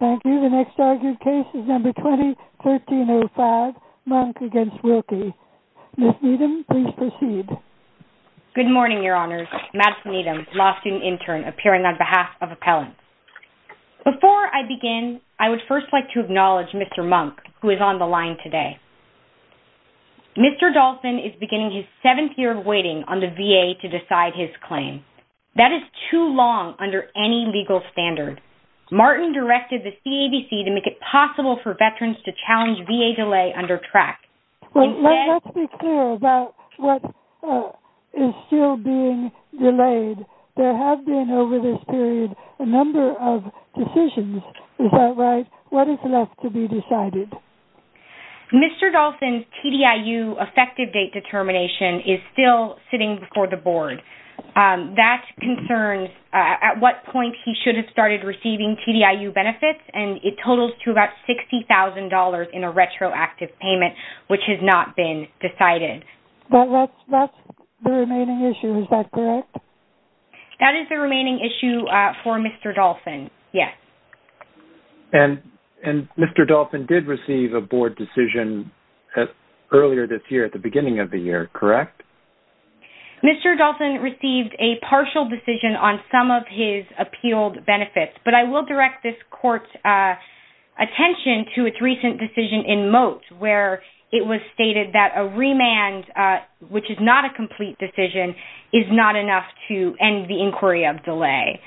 The next argued case is number 20-1305, Monk v. Wilkie. Ms. Needham, please proceed. Good morning, Your Honors. Madison Needham, law student intern, appearing on behalf of Appellant. Before I begin, I would first like to acknowledge Mr. Monk, who is on the line today. Mr. Dolphin is beginning his seventh year of waiting on the VA to decide his claim. That is too long under any legal standard. Martin directed the CABC to make it possible for veterans to challenge VA delay under track. Let's be clear about what is still being delayed. There have been over this period a number of decisions. Is that right? What is left to be decided? Mr. Dolphin's TDIU effective date determination is still sitting before the board. That concerns at what point he should have started receiving TDIU benefits, and it totals to about $60,000 in a retroactive payment, which has not been decided. That is the remaining issue, is that correct? That is the remaining issue for Mr. Dolphin, yes. And Mr. Dolphin did receive a board decision earlier this year, at the beginning of the year, correct? Mr. Dolphin received a partial decision on some of his appealed benefits, but I will direct this court's attention to its recent decision in Moat, where it was stated that a remand, which is not a complete decision, is not enough to end the inquiry of delay.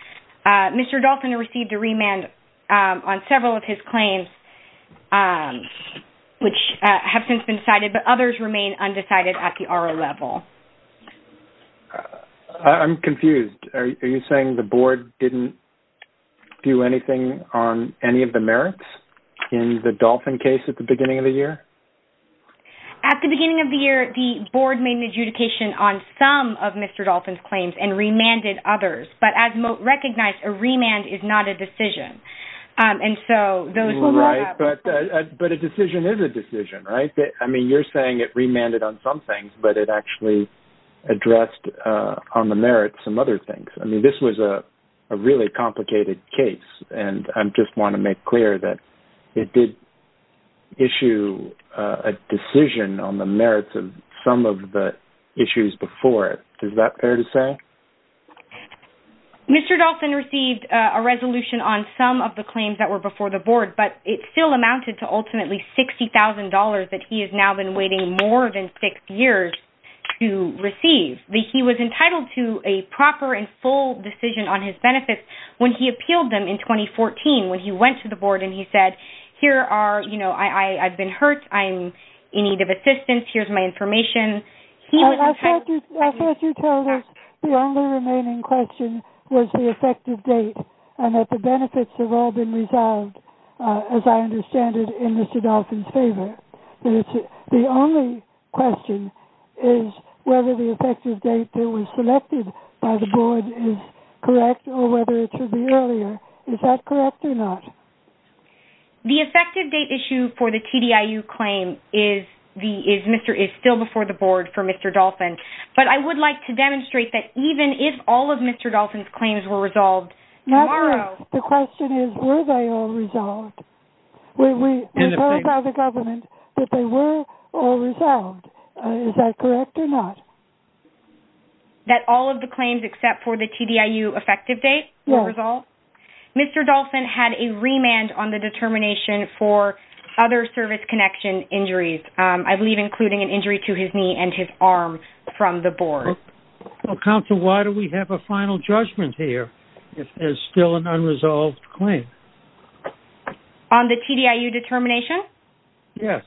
Mr. Dolphin received a remand on several of his claims, which have since been decided, but others remain undecided at the RO level. I'm confused. Are you saying the board didn't do anything on any of the merits in the Dolphin case at the beginning of the year? At the beginning of the year, the board made an adjudication on some of Mr. Dolphin's claims and remanded others, but as Moat recognized, a remand is not a decision. Right, but a decision is a decision, right? I mean, you're saying it remanded on some things, but it actually addressed on the merits some other things. I mean, this was a really complicated case, and I just want to make clear that it did issue a decision on the merits of some of the issues before it. Is that fair to say? Mr. Dolphin received a resolution on some of the claims that were before the board, but it still amounted to ultimately $60,000 that he has now been waiting more than six years to receive. He was entitled to a proper and full decision on his benefits when he appealed them in 2014, when he went to the board and he said, here are, you know, I've been hurt, I'm in need of assistance, here's my information. I thought you told us the only remaining question was the effective date and that the benefits have all been resolved, as I understand it, in Mr. Dolphin's favor. The only question is whether the effective date that was selected by the board is correct or whether it should be earlier. Is that correct or not? The effective date issue for the TDIU claim is still before the board for Mr. Dolphin, but I would like to demonstrate that even if all of Mr. Dolphin's claims were resolved tomorrow The question is, were they all resolved? We heard from the government that they were all resolved. Is that correct or not? That all of the claims except for the TDIU effective date were resolved? No. Mr. Dolphin had a remand on the determination for other service connection injuries, I believe including an injury to his knee and his arm from the board. Counsel, why do we have a final judgment here if there's still an unresolved claim? On the TDIU determination? Yes.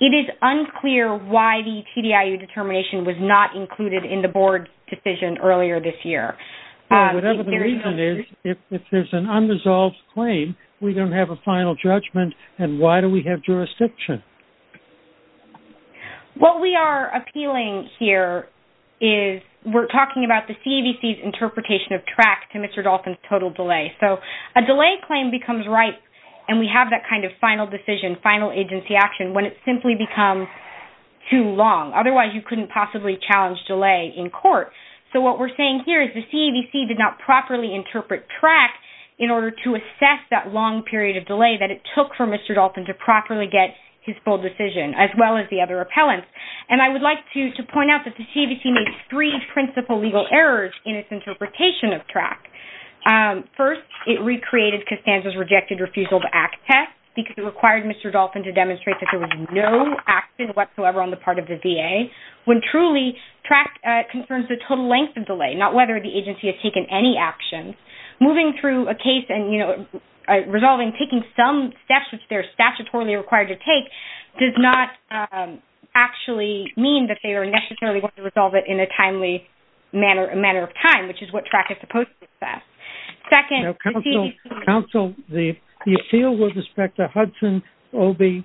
It is unclear why the TDIU determination was not included in the board's decision earlier this year. Whatever the reason is, if there's an unresolved claim, we don't have a final judgment and why do we have jurisdiction? What we are appealing here is we're talking about the CAVC's interpretation of track to Mr. Dolphin's total delay. So a delay claim becomes ripe and we have that kind of final decision, final agency action when it simply becomes too long. Otherwise, you couldn't possibly challenge delay in court. So what we're saying here is the CAVC did not properly interpret track in order to assess that long period of delay that it took for Mr. Dolphin to properly get his full decision as well as the other appellants. And I would like to point out that the CAVC made three principal legal errors in its interpretation of track. First, it recreated Costanza's rejected refusal to act test because it required Mr. Dolphin to demonstrate that there was no action whatsoever on the part of the VA when truly track concerns the total length of delay, not whether the agency has taken any action. Moving through a case and, you know, resolving, taking some steps which they're statutorily required to take does not actually mean that they are necessarily going to resolve it in a timely manner of time, which is what track is supposed to assess. Second, the CAVC... Now, counsel, the appeal with respect to Hudson, Obey,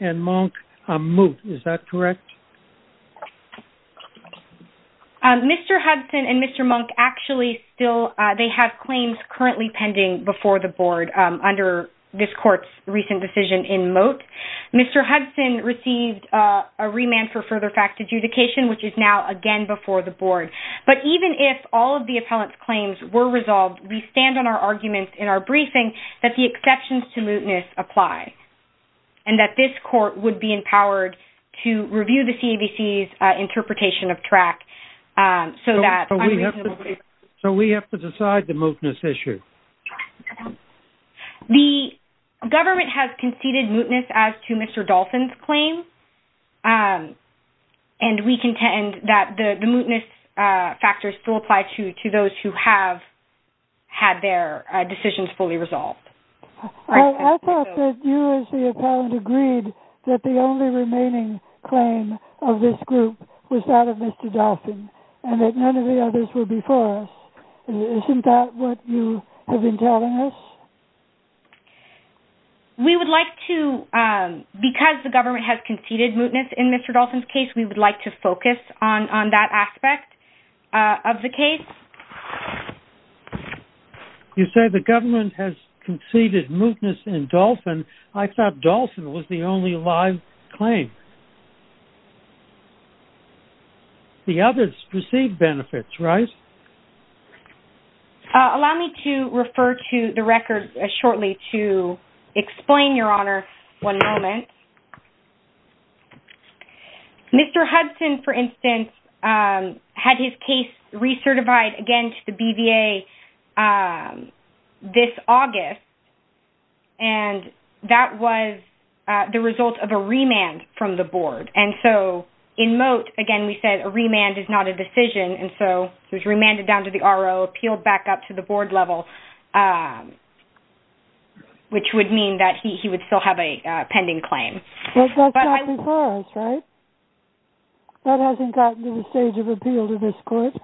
and Monk are moved. Is that correct? Mr. Hudson and Mr. Monk actually still... They have claims currently pending before the board under this court's recent decision in moat. Mr. Hudson received a remand for further fact adjudication, which is now again before the board. But even if all of the appellant's claims were resolved, we stand on our arguments in our briefing that the exceptions to mootness apply and that this court would be empowered to review the CAVC's interpretation of track so that... So we have to decide the mootness issue? The government has conceded mootness as to Mr. Dolphin's claim, and we contend that the mootness factors still apply to those who have had their decisions fully resolved. I thought that you as the appellant agreed that the only remaining claim of this group was that of Mr. Dolphin and that none of the others were before us. Isn't that what you have been telling us? We would like to... Because the government has conceded mootness in Mr. Dolphin's case, we would like to focus on that aspect of the case. You say the government has conceded mootness in Dolphin. I thought Dolphin was the only live claim. The others received benefits, right? Allow me to refer to the record shortly to explain, Your Honor, one moment. Mr. Hudson, for instance, had his case recertified again to the BVA this August, and that was the result of a remand from the board. And so in moot, again, we said a remand is not a decision, and so he was remanded down to the RO, appealed back up to the board level, which would mean that he would still have a pending claim. But that's not before us, right? That hasn't gotten to the stage of appeal to this court.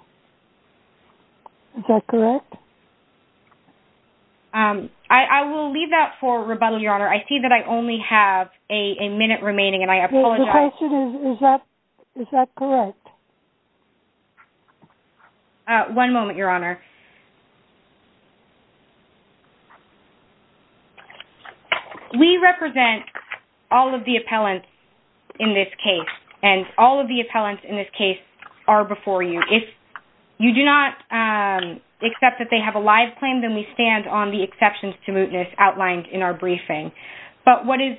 Is that correct? I will leave that for rebuttal, Your Honor. I see that I only have a minute remaining, and I apologize. The question is, is that correct? One moment, Your Honor. We represent all of the appellants in this case, and all of the appellants in this case are before you. If you do not accept that they have a live claim, then we stand on the exceptions to mootness outlined in our briefing. But what is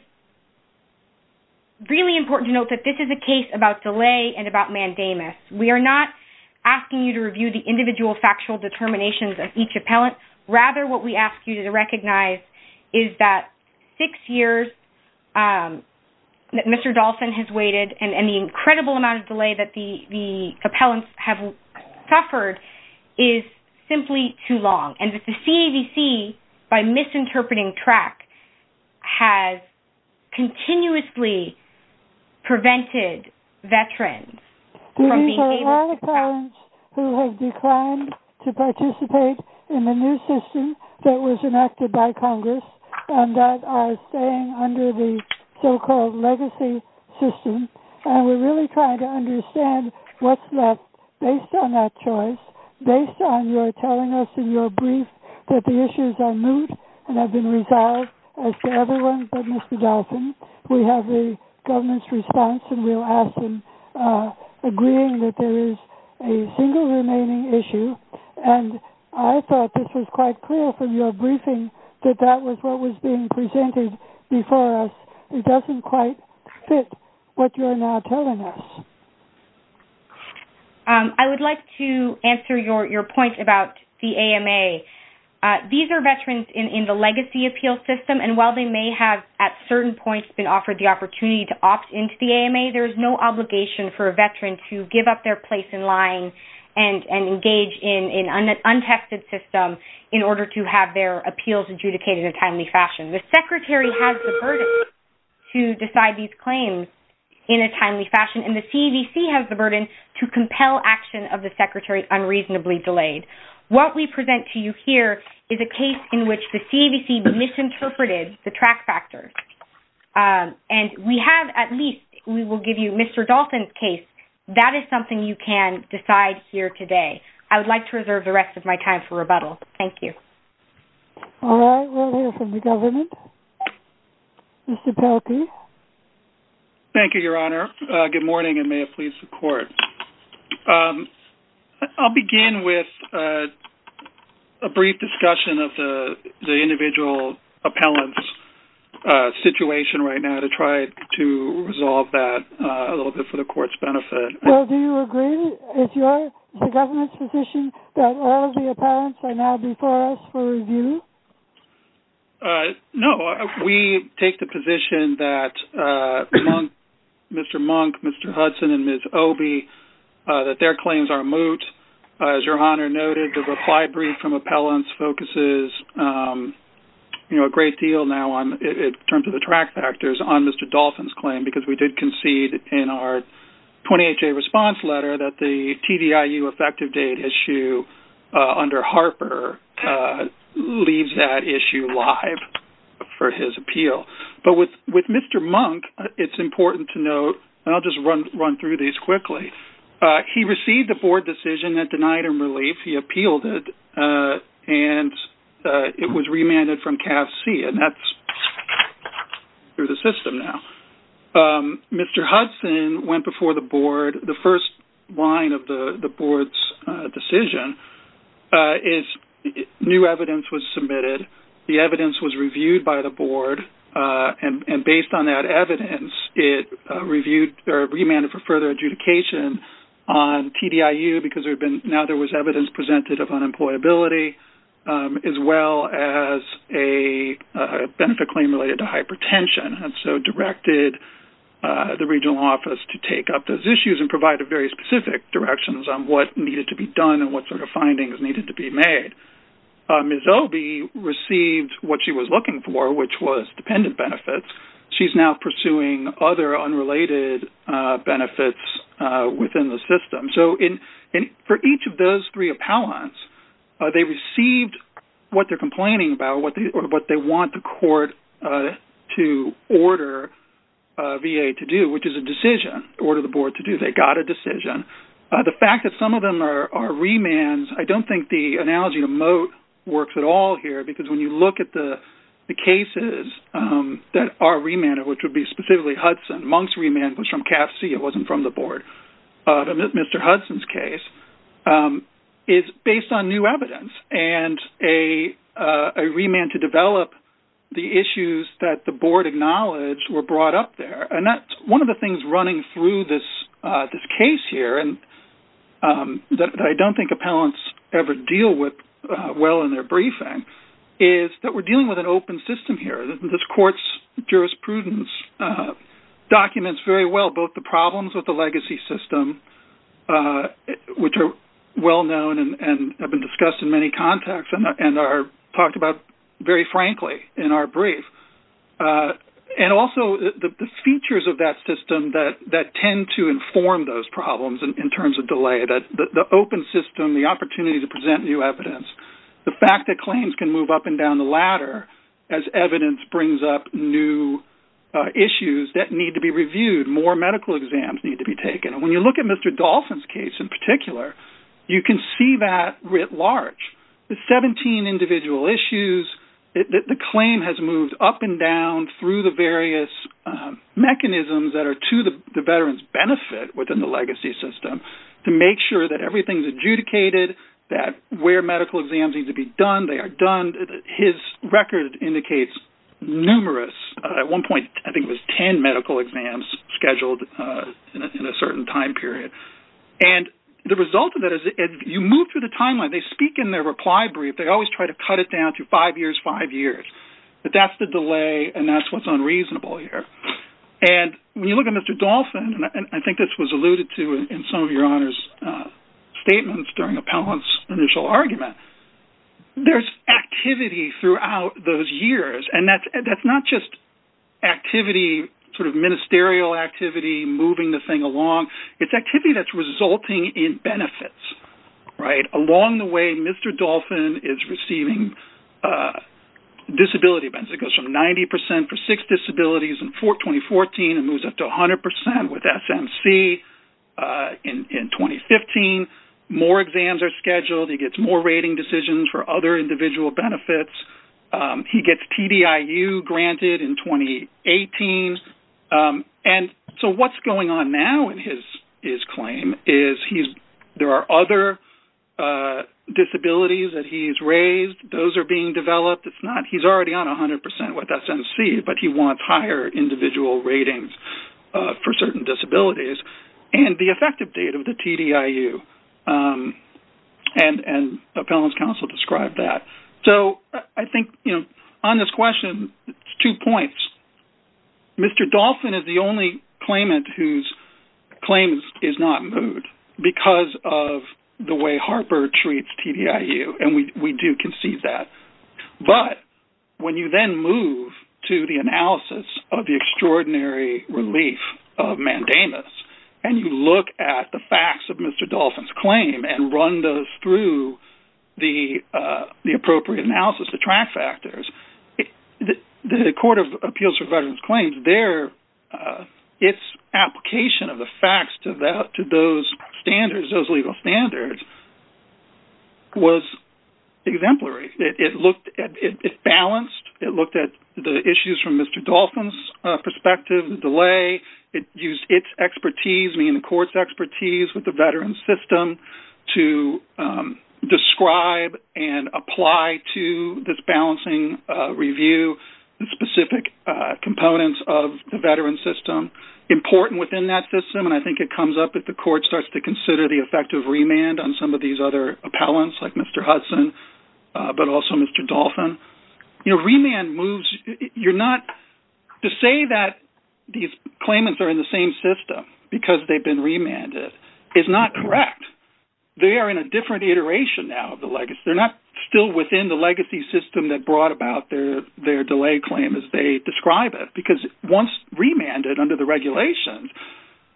really important to note that this is a case about delay and about mandamus. We are not asking you to review the individual factual decisions or the determinations of each appellant. Rather, what we ask you to recognize is that six years that Mr. Dolphin has waited and the incredible amount of delay that the appellants have suffered is simply too long, and that the CAVC, by misinterpreting track, who have declined to participate in the new system that was enacted by Congress and that are staying under the so-called legacy system, and we're really trying to understand what's left based on that choice, based on your telling us in your brief that the issues are moot and have been resolved as to everyone but Mr. Dolphin. We have the government's response, and we'll ask them agreeing that there is a single remaining issue. And I thought this was quite clear from your briefing that that was what was being presented before us. It doesn't quite fit what you're now telling us. I would like to answer your point about the AMA. These are veterans in the legacy appeal system, and while they may have at certain points been offered the opportunity to opt into the AMA, there is no obligation for a veteran to give up their place in line and engage in an untested system in order to have their appeals adjudicated in a timely fashion. The secretary has the burden to decide these claims in a timely fashion, and the CAVC has the burden to compel action of the secretary unreasonably delayed. What we present to you here is a case in which the CAVC misinterpreted the track factors. And we have at least, we will give you Mr. Dolphin's case. That is something you can decide here today. I would like to reserve the rest of my time for rebuttal. Thank you. All right, we'll hear from the government. Mr. Pelkey. Good morning, and may it please the Court. I'll begin with a brief discussion of the individual appellant's situation right now to try to resolve that a little bit for the Court's benefit. Well, do you agree with the government's position that all of the appellants are now before us for review? No. We take the position that Mr. Monk, Mr. Hudson, and Ms. Obey, that their claims are moot. As Your Honor noted, the reply brief from appellants focuses a great deal now in terms of the track factors on Mr. Dolphin's claim because we did concede in our 28-day response letter that the TVIU effective date issue under Harper leaves that issue live for his appeal. But with Mr. Monk, it's important to note, and I'll just run through these quickly. He received a Board decision that denied him relief. He appealed it, and it was remanded from CAF-C, and that's through the system now. Mr. Hudson went before the Board. The first line of the Board's decision is new evidence was submitted. The evidence was reviewed by the Board, and based on that evidence, it remanded for further adjudication on TVIU because now there was evidence presented of unemployability as well as a benefit claim related to hypertension, and so directed the regional office to take up those issues and provide very specific directions on what needed to be done and what sort of findings needed to be made. Ms. Obey received what she was looking for, which was dependent benefits. She's now pursuing other unrelated benefits within the system. So for each of those three appellants, they received what they're complaining about or what they want the court to order VA to do, which is a decision, order the Board to do. They got a decision. The fact that some of them are remands, I don't think the analogy of moat works at all here because when you look at the cases that are remanded, which would be specifically Hudson, Monk's remand was from CAF-C. It wasn't from the Board. Mr. Hudson's case is based on new evidence and a remand to develop the issues that the Board acknowledged were brought up there. And that's one of the things running through this case here that I don't think appellants ever deal with well in their briefing is that we're dealing with an open system here. This court's jurisprudence documents very well both the problems with the legacy system, which are well known and have been discussed in many contexts and are talked about very frankly in our brief, and also the features of that system that tend to inform those problems in terms of delay, the open system, the opportunity to present new evidence, the fact that claims can move up and down the ladder as evidence brings up new issues that need to be reviewed, more medical exams need to be taken. And when you look at Mr. Dolphin's case in particular, you can see that writ large. The 17 individual issues that the claim has moved up and down through the various mechanisms that are to the veteran's benefit within the legacy system to make sure that everything's adjudicated, that where medical exams need to be done, they are done. His record indicates numerous. At one point, I think it was 10 medical exams scheduled in a certain time period. And the result of that is you move through the timeline. They speak in their reply brief. They always try to cut it down to five years, five years. But that's the delay, and that's what's unreasonable here. And when you look at Mr. Dolphin, and I think this was alluded to in some of your honors statements during Appellant's initial argument, there's activity throughout those years, and that's not just activity, sort of ministerial activity, moving the thing along. It's activity that's resulting in benefits, right? Along the way, Mr. Dolphin is receiving disability benefits. It goes from 90% for six disabilities in 2014 and moves up to 100% with SMC in 2015. More exams are scheduled. He gets more rating decisions for other individual benefits. He gets TDIU granted in 2018. And so what's going on now in his claim is there are other disabilities that he's raised. Those are being developed. He's already on 100% with SMC, but he wants higher individual ratings for certain disabilities and the effective date of the TDIU, and Appellant's counsel described that. So I think, you know, on this question, it's two points. Mr. Dolphin is the only claimant whose claim is not moved because of the way Harper treats TDIU, and we do concede that. But when you then move to the analysis of the extraordinary relief of mandamus and you look at the facts of Mr. Dolphin's claim and run those through the appropriate analysis, the track factors, the Court of Appeals for Veterans Claims, its application of the facts to those standards, those legal standards, was exemplary. It balanced. It looked at the issues from Mr. Dolphin's perspective, the delay. It used its expertise, meaning the court's expertise with the veteran's system, to describe and apply to this balancing review the specific components of the veteran's system. Important within that system, and I think it comes up if the court starts to consider the effect of remand on some of these other appellants like Mr. Hudson, but also Mr. Dolphin. You know, remand moves, you're not, to say that these claimants are in the same system because they've been remanded is not correct. They are in a different iteration now of the legacy. They're not still within the legacy system that brought about their delay claim as they describe it because once remanded under the regulations,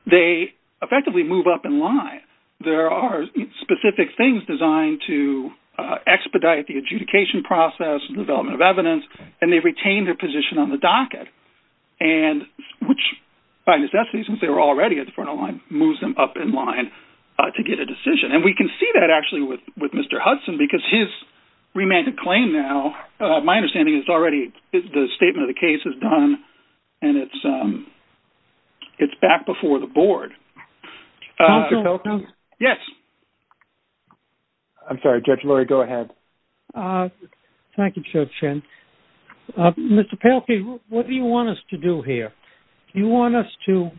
they effectively move up in line. There are specific things designed to expedite the adjudication process and development of evidence, and they retain their position on the docket, which by necessity, since they were already at the front of the line, moves them up in line to get a decision. And we can see that actually with Mr. Hudson because his remanded claim now, my understanding is already the statement of the case is done and it's back before the board. Counselor Pelkey? Yes. I'm sorry, Judge Lurie, go ahead. Thank you, Judge Chen. Mr. Pelkey, what do you want us to do here? Do you want us to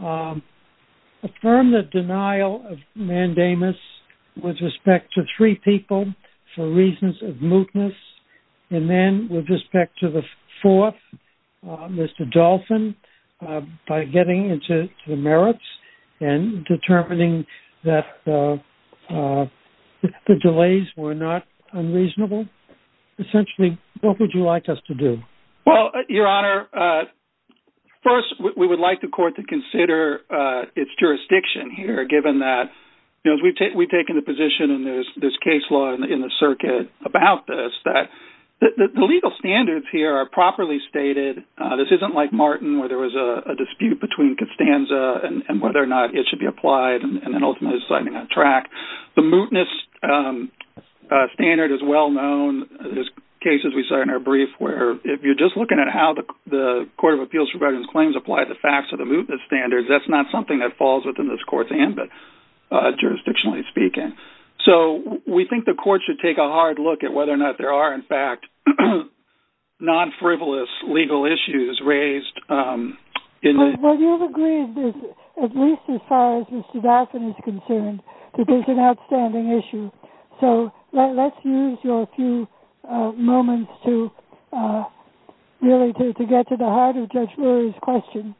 affirm the denial of mandamus with respect to three people for reasons of mootness and then with respect to the fourth, Mr. Dolphin, by getting into the merits and determining that the delays were not unreasonable? Essentially, what would you like us to do? Well, Your Honor, first, we would like the court to consider its jurisdiction here, given that we've taken a position in this case law in the circuit about this, that the legal standards here are properly stated. This isn't like Martin where there was a dispute between Costanza and whether or not it should be applied and then ultimately deciding on track. The mootness standard is well known. There's cases we saw in our brief where if you're just looking at how the Court of Appeals for Veterans Claims applied the facts of the mootness standards, that's not something that falls within this court's hand, but jurisdictionally speaking. So we think the court should take a hard look at whether or not there are, in fact, non-frivolous legal issues raised. Well, you've agreed, at least as far as Mr. Dolphin is concerned, that there's an outstanding issue. So let's use your few moments to really get to the heart of Judge Rurie's question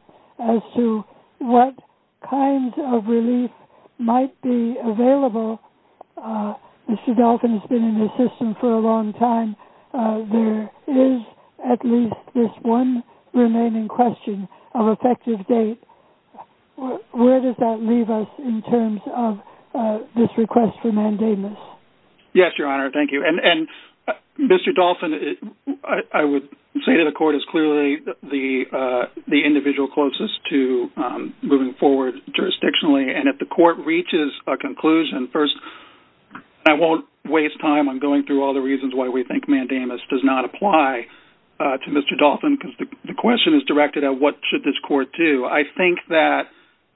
Mr. Dolphin has been in the system for a long time. There is at least this one remaining question of effective date. Where does that leave us in terms of this request for mandamus? Yes, Your Honor, thank you. And Mr. Dolphin, I would say that the court is clearly the individual closest to moving forward jurisdictionally. And if the court reaches a conclusion, first, I won't waste time on going through all the reasons why we think mandamus does not apply to Mr. Dolphin, because the question is directed at what should this court do. I think that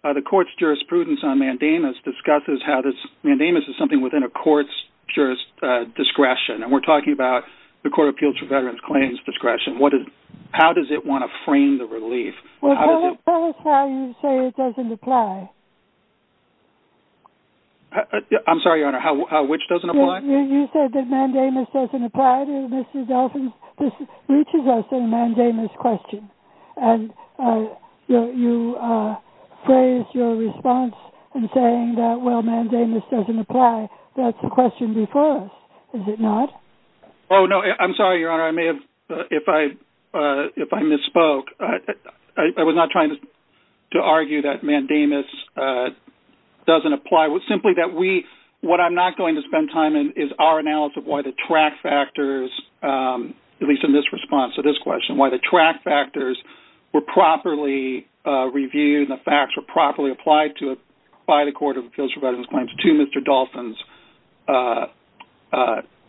the court's jurisprudence on mandamus discusses how this mandamus is something within a court's discretion. And we're talking about the Court of Appeals for Veterans Claims discretion. How does it want to frame the relief? Well, tell us how you say it doesn't apply. I'm sorry, Your Honor, how which doesn't apply? You said that mandamus doesn't apply to Mr. Dolphin. This reaches us in a mandamus question. And you phrased your response in saying that, well, mandamus doesn't apply. That's the question before us, is it not? Oh, no, I'm sorry, Your Honor. If I misspoke, I was not trying to argue that mandamus doesn't apply. It's simply that what I'm not going to spend time in is our analysis of why the track factors, at least in this response to this question, why the track factors were properly reviewed and the facts were properly applied to by the Court of Appeals for Veterans Claims to Mr. Dolphin's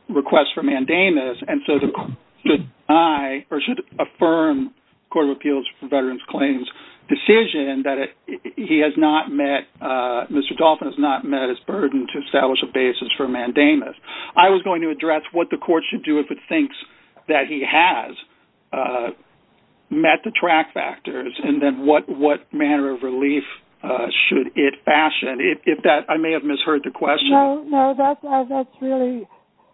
request for mandamus. And so should I, or should a firm Court of Appeals for Veterans Claims decision that he has not met, Mr. Dolphin has not met his burden to establish a basis for mandamus, I was going to address what the Court should do if it thinks that he has met the track factors, and then what manner of relief should it fashion. If that, I may have misheard the question. No, no, that's really,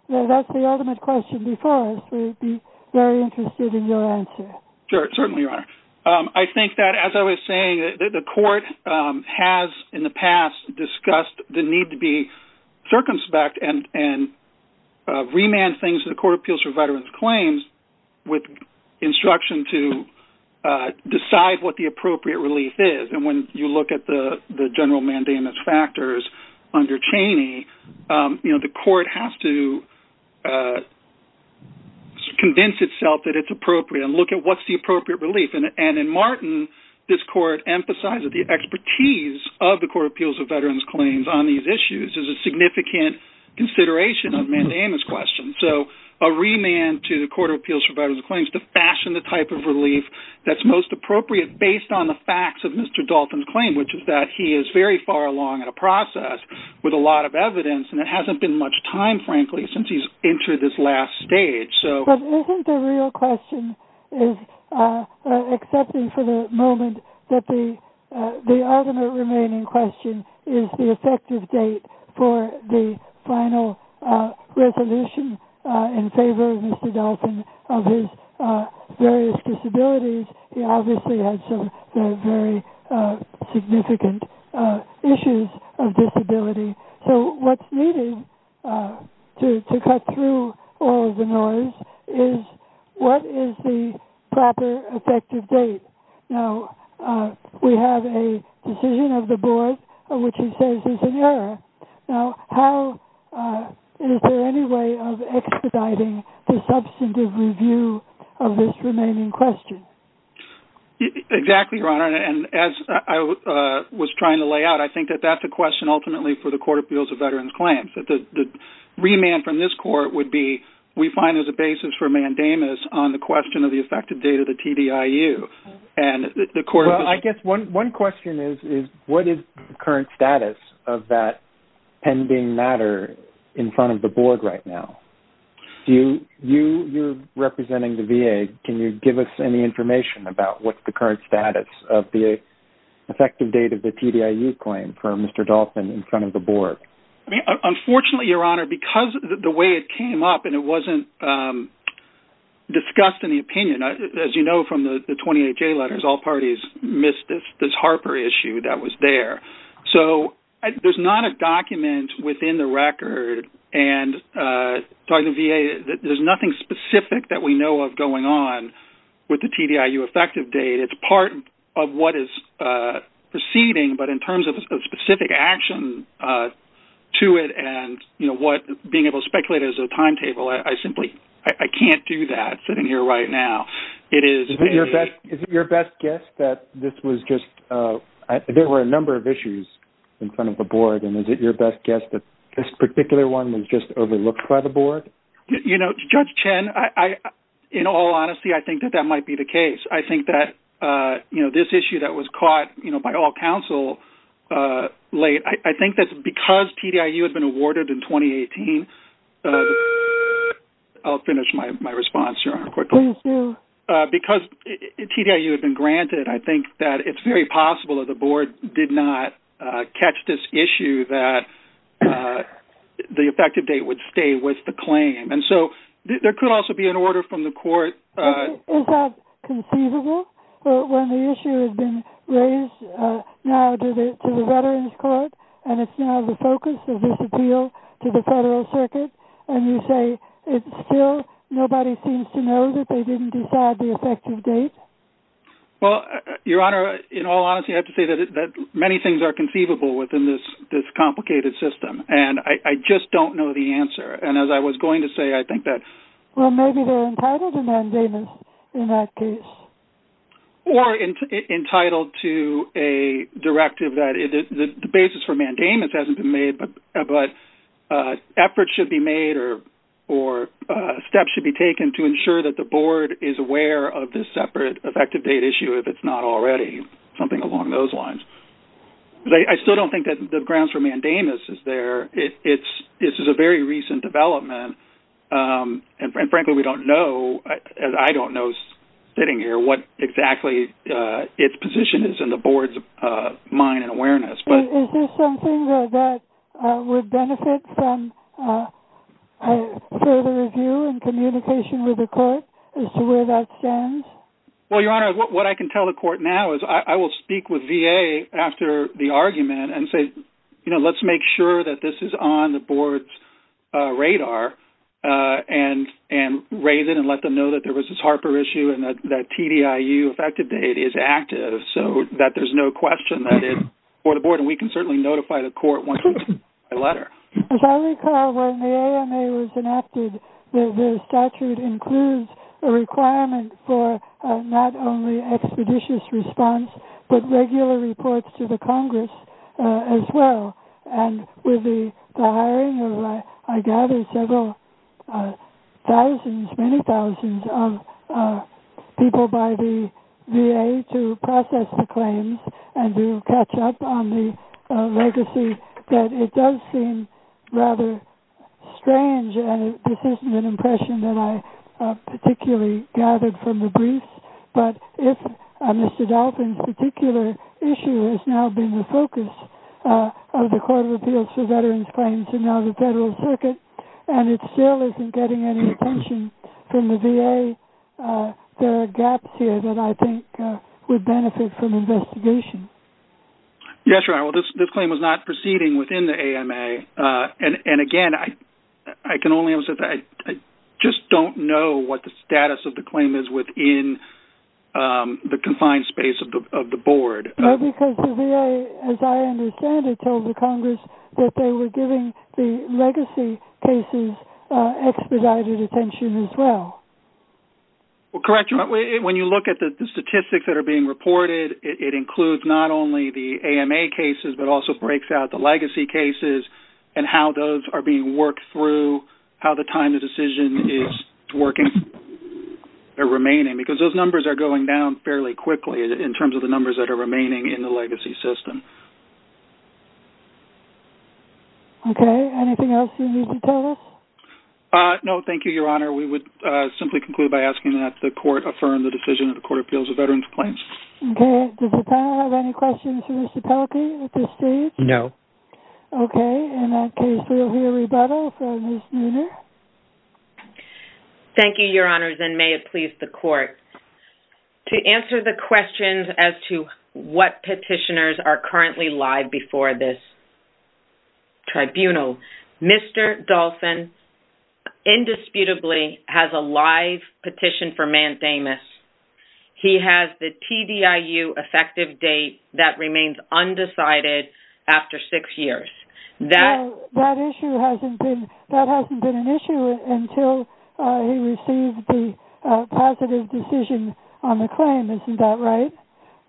that's the ultimate question before us. We'd be very interested in your answer. Sure, certainly, Your Honor. I think that, as I was saying, the Court has in the past discussed the need to be circumspect and remand things to the Court of Appeals for Veterans Claims with instruction to decide what the appropriate relief is. And when you look at the general mandamus factors under Cheney, the Court has to convince itself that it's appropriate and look at what's the appropriate relief. And in Martin, this Court emphasized that the expertise of the Court of Appeals for Veterans Claims on these issues is a significant consideration of mandamus questions. So a remand to the Court of Appeals for Veterans Claims to fashion the type of relief that's most appropriate based on the facts of Mr. Dalton's claim, which is that he is very far along in a process with a lot of evidence, and there hasn't been much time, frankly, since he's entered this last stage. But isn't the real question, excepting for the moment, that the ultimate remaining question is the effective date for the final resolution in favor of Mr. Dalton of his various disabilities? He obviously has some very significant issues of disability. So what's needed to cut through all of the noise is what is the proper effective date? Now, we have a decision of the Board, which he says is an error. Now, is there any way of expediting the substantive review of this remaining question? Exactly, Your Honor. And as I was trying to lay out, I think that that's a question ultimately for the Court of Appeals for Veterans Claims, that the remand from this Court would be we find there's a basis for mandamus on the question of the effective date of the TDIU. Well, I guess one question is what is the current status of that pending matter in front of the Board right now? You're representing the VA. Can you give us any information about what's the current status of the effective date of the TDIU claim for Mr. Dalton in front of the Board? Unfortunately, Your Honor, because of the way it came up and it wasn't discussed in the opinion, as you know from the 28-J letters, all parties missed this Harper issue that was there. So there's not a document within the record, and talking to the VA, there's nothing specific that we know of going on with the TDIU effective date. It's part of what is proceeding, but in terms of specific action to it and being able to speculate as a timetable, I simply can't do that sitting here right now. Is it your best guess that there were a number of issues in front of the Board, and is it your best guess that this particular one was just overlooked by the Board? You know, Judge Chen, in all honesty, I think that that might be the case. I think that this issue that was caught by all counsel late, I think that because TDIU had been awarded in 2018, I'll finish my response, Your Honor, quickly. Please do. Because TDIU had been granted, I think that it's very possible that the Board did not catch this issue that the effective date would stay with the claim. Is that conceivable when the issue has been raised now to the Veterans Court, and it's now the focus of this appeal to the Federal Circuit, and you say still nobody seems to know that they didn't decide the effective date? Well, Your Honor, in all honesty, I have to say that many things are conceivable within this complicated system, and I just don't know the answer. And as I was going to say, I think that Well, maybe they're entitled to mandamus in that case. Or entitled to a directive that the basis for mandamus hasn't been made, but efforts should be made or steps should be taken to ensure that the Board is aware of this separate effective date issue if it's not already, something along those lines. I still don't think that the grounds for mandamus is there. This is a very recent development, and frankly, we don't know, and I don't know sitting here what exactly its position is in the Board's mind and awareness. Is this something that would benefit from further review and communication with the Court as to where that stands? Well, Your Honor, what I can tell the Court now is I will speak with VA after the argument and say, you know, let's make sure that this is on the Board's radar and raise it and let them know that there was this Harper issue and that TDIU effective date is active so that there's no question that it's for the Board. And we can certainly notify the Court once we get a letter. As I recall, when the AMA was enacted, the statute includes a requirement for not only expeditious response but regular reports to the Congress as well. And with the hiring of, I gather, several thousands, many thousands of people by the VA to process the claims and to catch up on the legacy, that it does seem rather strange, and this isn't an impression that I particularly gathered from the briefs, but if Mr. Dolphin's particular issue has now been the focus of the Court of Appeals for Veterans Claims and now the Federal Circuit, and it still isn't getting any attention from the VA, there are gaps here that I think would benefit from investigation. Yes, right. Well, this claim was not proceeding within the AMA. And again, I can only emphasize that I just don't know what the status of the claim is within the confined space of the Board. Because the VA, as I understand it, told the Congress that they were giving the legacy cases expedited attention as well. Correct. When you look at the statistics that are being reported, it includes not only the AMA cases but also breaks out the legacy cases and how those are being worked through, how the time of decision is working or remaining, because those numbers are going down fairly quickly in terms of the numbers that are remaining in the legacy system. Okay. Anything else you need to tell us? No, thank you, Your Honor. We would simply conclude by asking that the Court affirm the decision of the Court of Appeals for Veterans Claims. Okay. Does the panel have any questions for Mr. Dolphin at this stage? No. Okay. In that case, we will hear rebuttal from Ms. Nooner. Thank you, Your Honors, and may it please the Court. To answer the questions as to what petitioners are currently live before this tribunal, Mr. Dolphin indisputably has a live petition for Mann-Thomas. He has the TDIU effective date that remains undecided after six years. That hasn't been an issue until he received the positive decision on the claim. Isn't that right?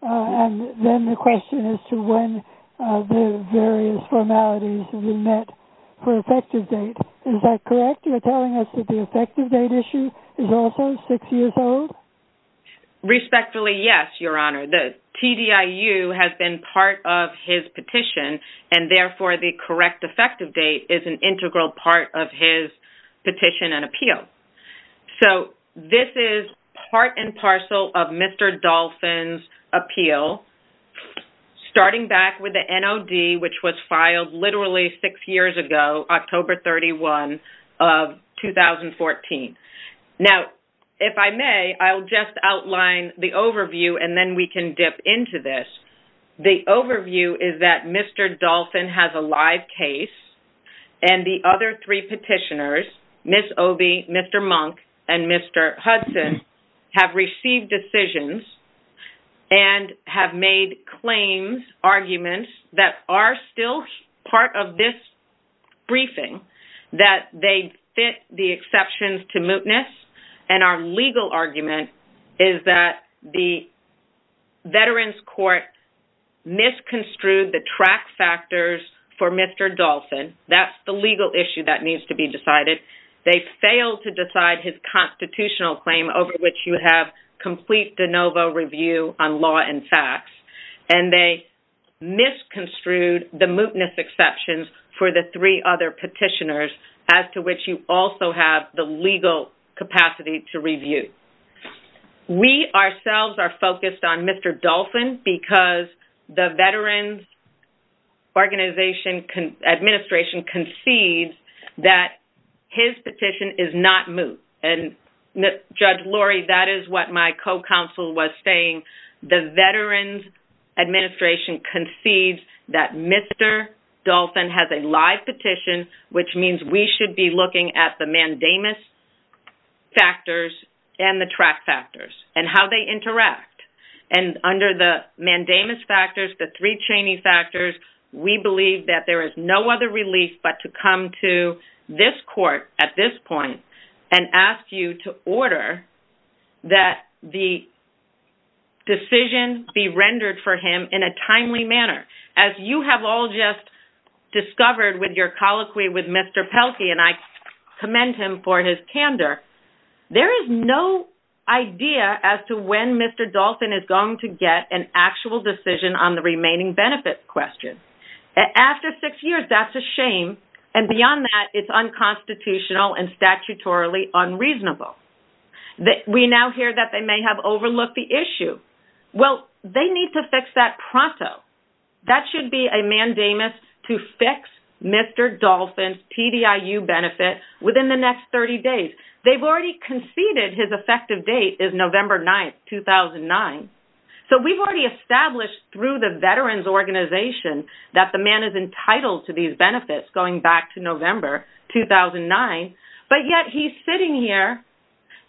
And then the question as to when the various formalities were met for effective date. Is that correct? You're telling us that the effective date issue is also six years old? Respectfully, yes, Your Honor. The TDIU has been part of his petition, and therefore the correct effective date is an integral part of his petition and appeal. So this is part and parcel of Mr. Dolphin's appeal, starting back with the NOD, which was filed literally six years ago, October 31 of 2014. Now, if I may, I'll just outline the overview, and then we can dip into this. The overview is that Mr. Dolphin has a live case, and the other three petitioners, Ms. Obey, Mr. Monk, and Mr. Hudson, have received decisions and have made claims, that are still part of this briefing, that they fit the exceptions to mootness. And our legal argument is that the Veterans Court misconstrued the track factors for Mr. Dolphin. That's the legal issue that needs to be decided. They failed to decide his constitutional claim, over which you have complete de novo review on law and facts. And they misconstrued the mootness exceptions for the three other petitioners, as to which you also have the legal capacity to review. We ourselves are focused on Mr. Dolphin, because the Veterans Organization Administration concedes that his petition is not moot. And Judge Lori, that is what my co-counsel was saying. The Veterans Administration concedes that Mr. Dolphin has a live petition, which means we should be looking at the mandamus factors and the track factors, and how they interact. And under the mandamus factors, the three training factors, we believe that there is no other relief but to come to this court at this point, and ask you to order that the decision be rendered for him in a timely manner. As you have all just discovered with your colloquy with Mr. Pelkey, and I commend him for his candor, there is no idea as to when Mr. Dolphin is going to get an actual decision on the remaining benefits question. After six years, that's a shame, and beyond that, it's unconstitutional and statutorily unreasonable. We now hear that they may have overlooked the issue. Well, they need to fix that pronto. That should be a mandamus to fix Mr. Dolphin's TDIU benefit within the next 30 days. They've already conceded his effective date is November 9, 2009. So we've already established through the Veterans Organization that the man is entitled to these benefits going back to November 2009, but yet he's sitting here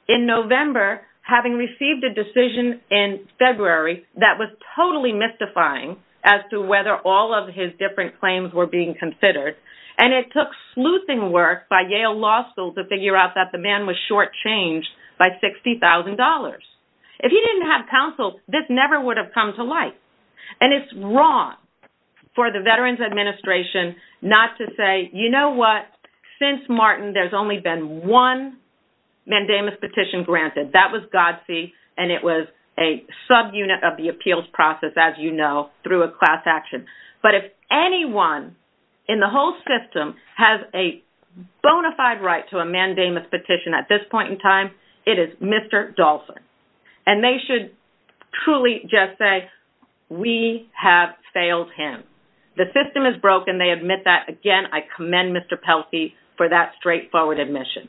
in November having received a decision in February that was totally mystifying as to whether all of his different claims were being considered, and it took sleuthing work by Yale Law School to figure out that the man was shortchanged by $60,000. If he didn't have counsel, this never would have come to light, and it's wrong for the Veterans Administration not to say, you know what? Since Martin, there's only been one mandamus petition granted. That was Godsey, and it was a subunit of the appeals process, as you know, through a class action. But if anyone in the whole system has a bona fide right to a mandamus petition at this point in time, it is Mr. Dolphin. And they should truly just say, we have failed him. The system is broken. They admit that. Again, I commend Mr. Pelsey for that straightforward admission.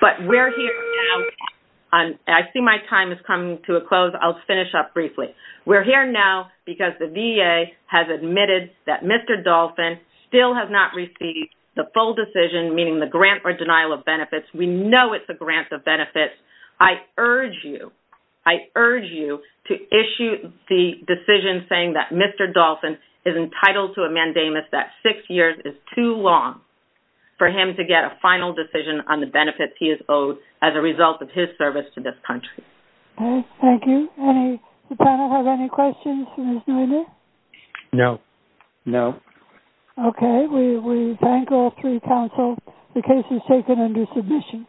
But we're here now. I see my time is coming to a close. I'll finish up briefly. We're here now because the VA has admitted that Mr. Dolphin still has not received the full decision, meaning the grant or denial of benefits. We know it's a grant of benefits. I urge you, I urge you to issue the decision saying that Mr. Dolphin is entitled to a mandamus that six years is too long for him to get a final decision on the benefits he is owed as a result of his service to this country. Thank you. Does the panel have any questions? No. No. Okay. We thank all three counsel. The case is taken under submission.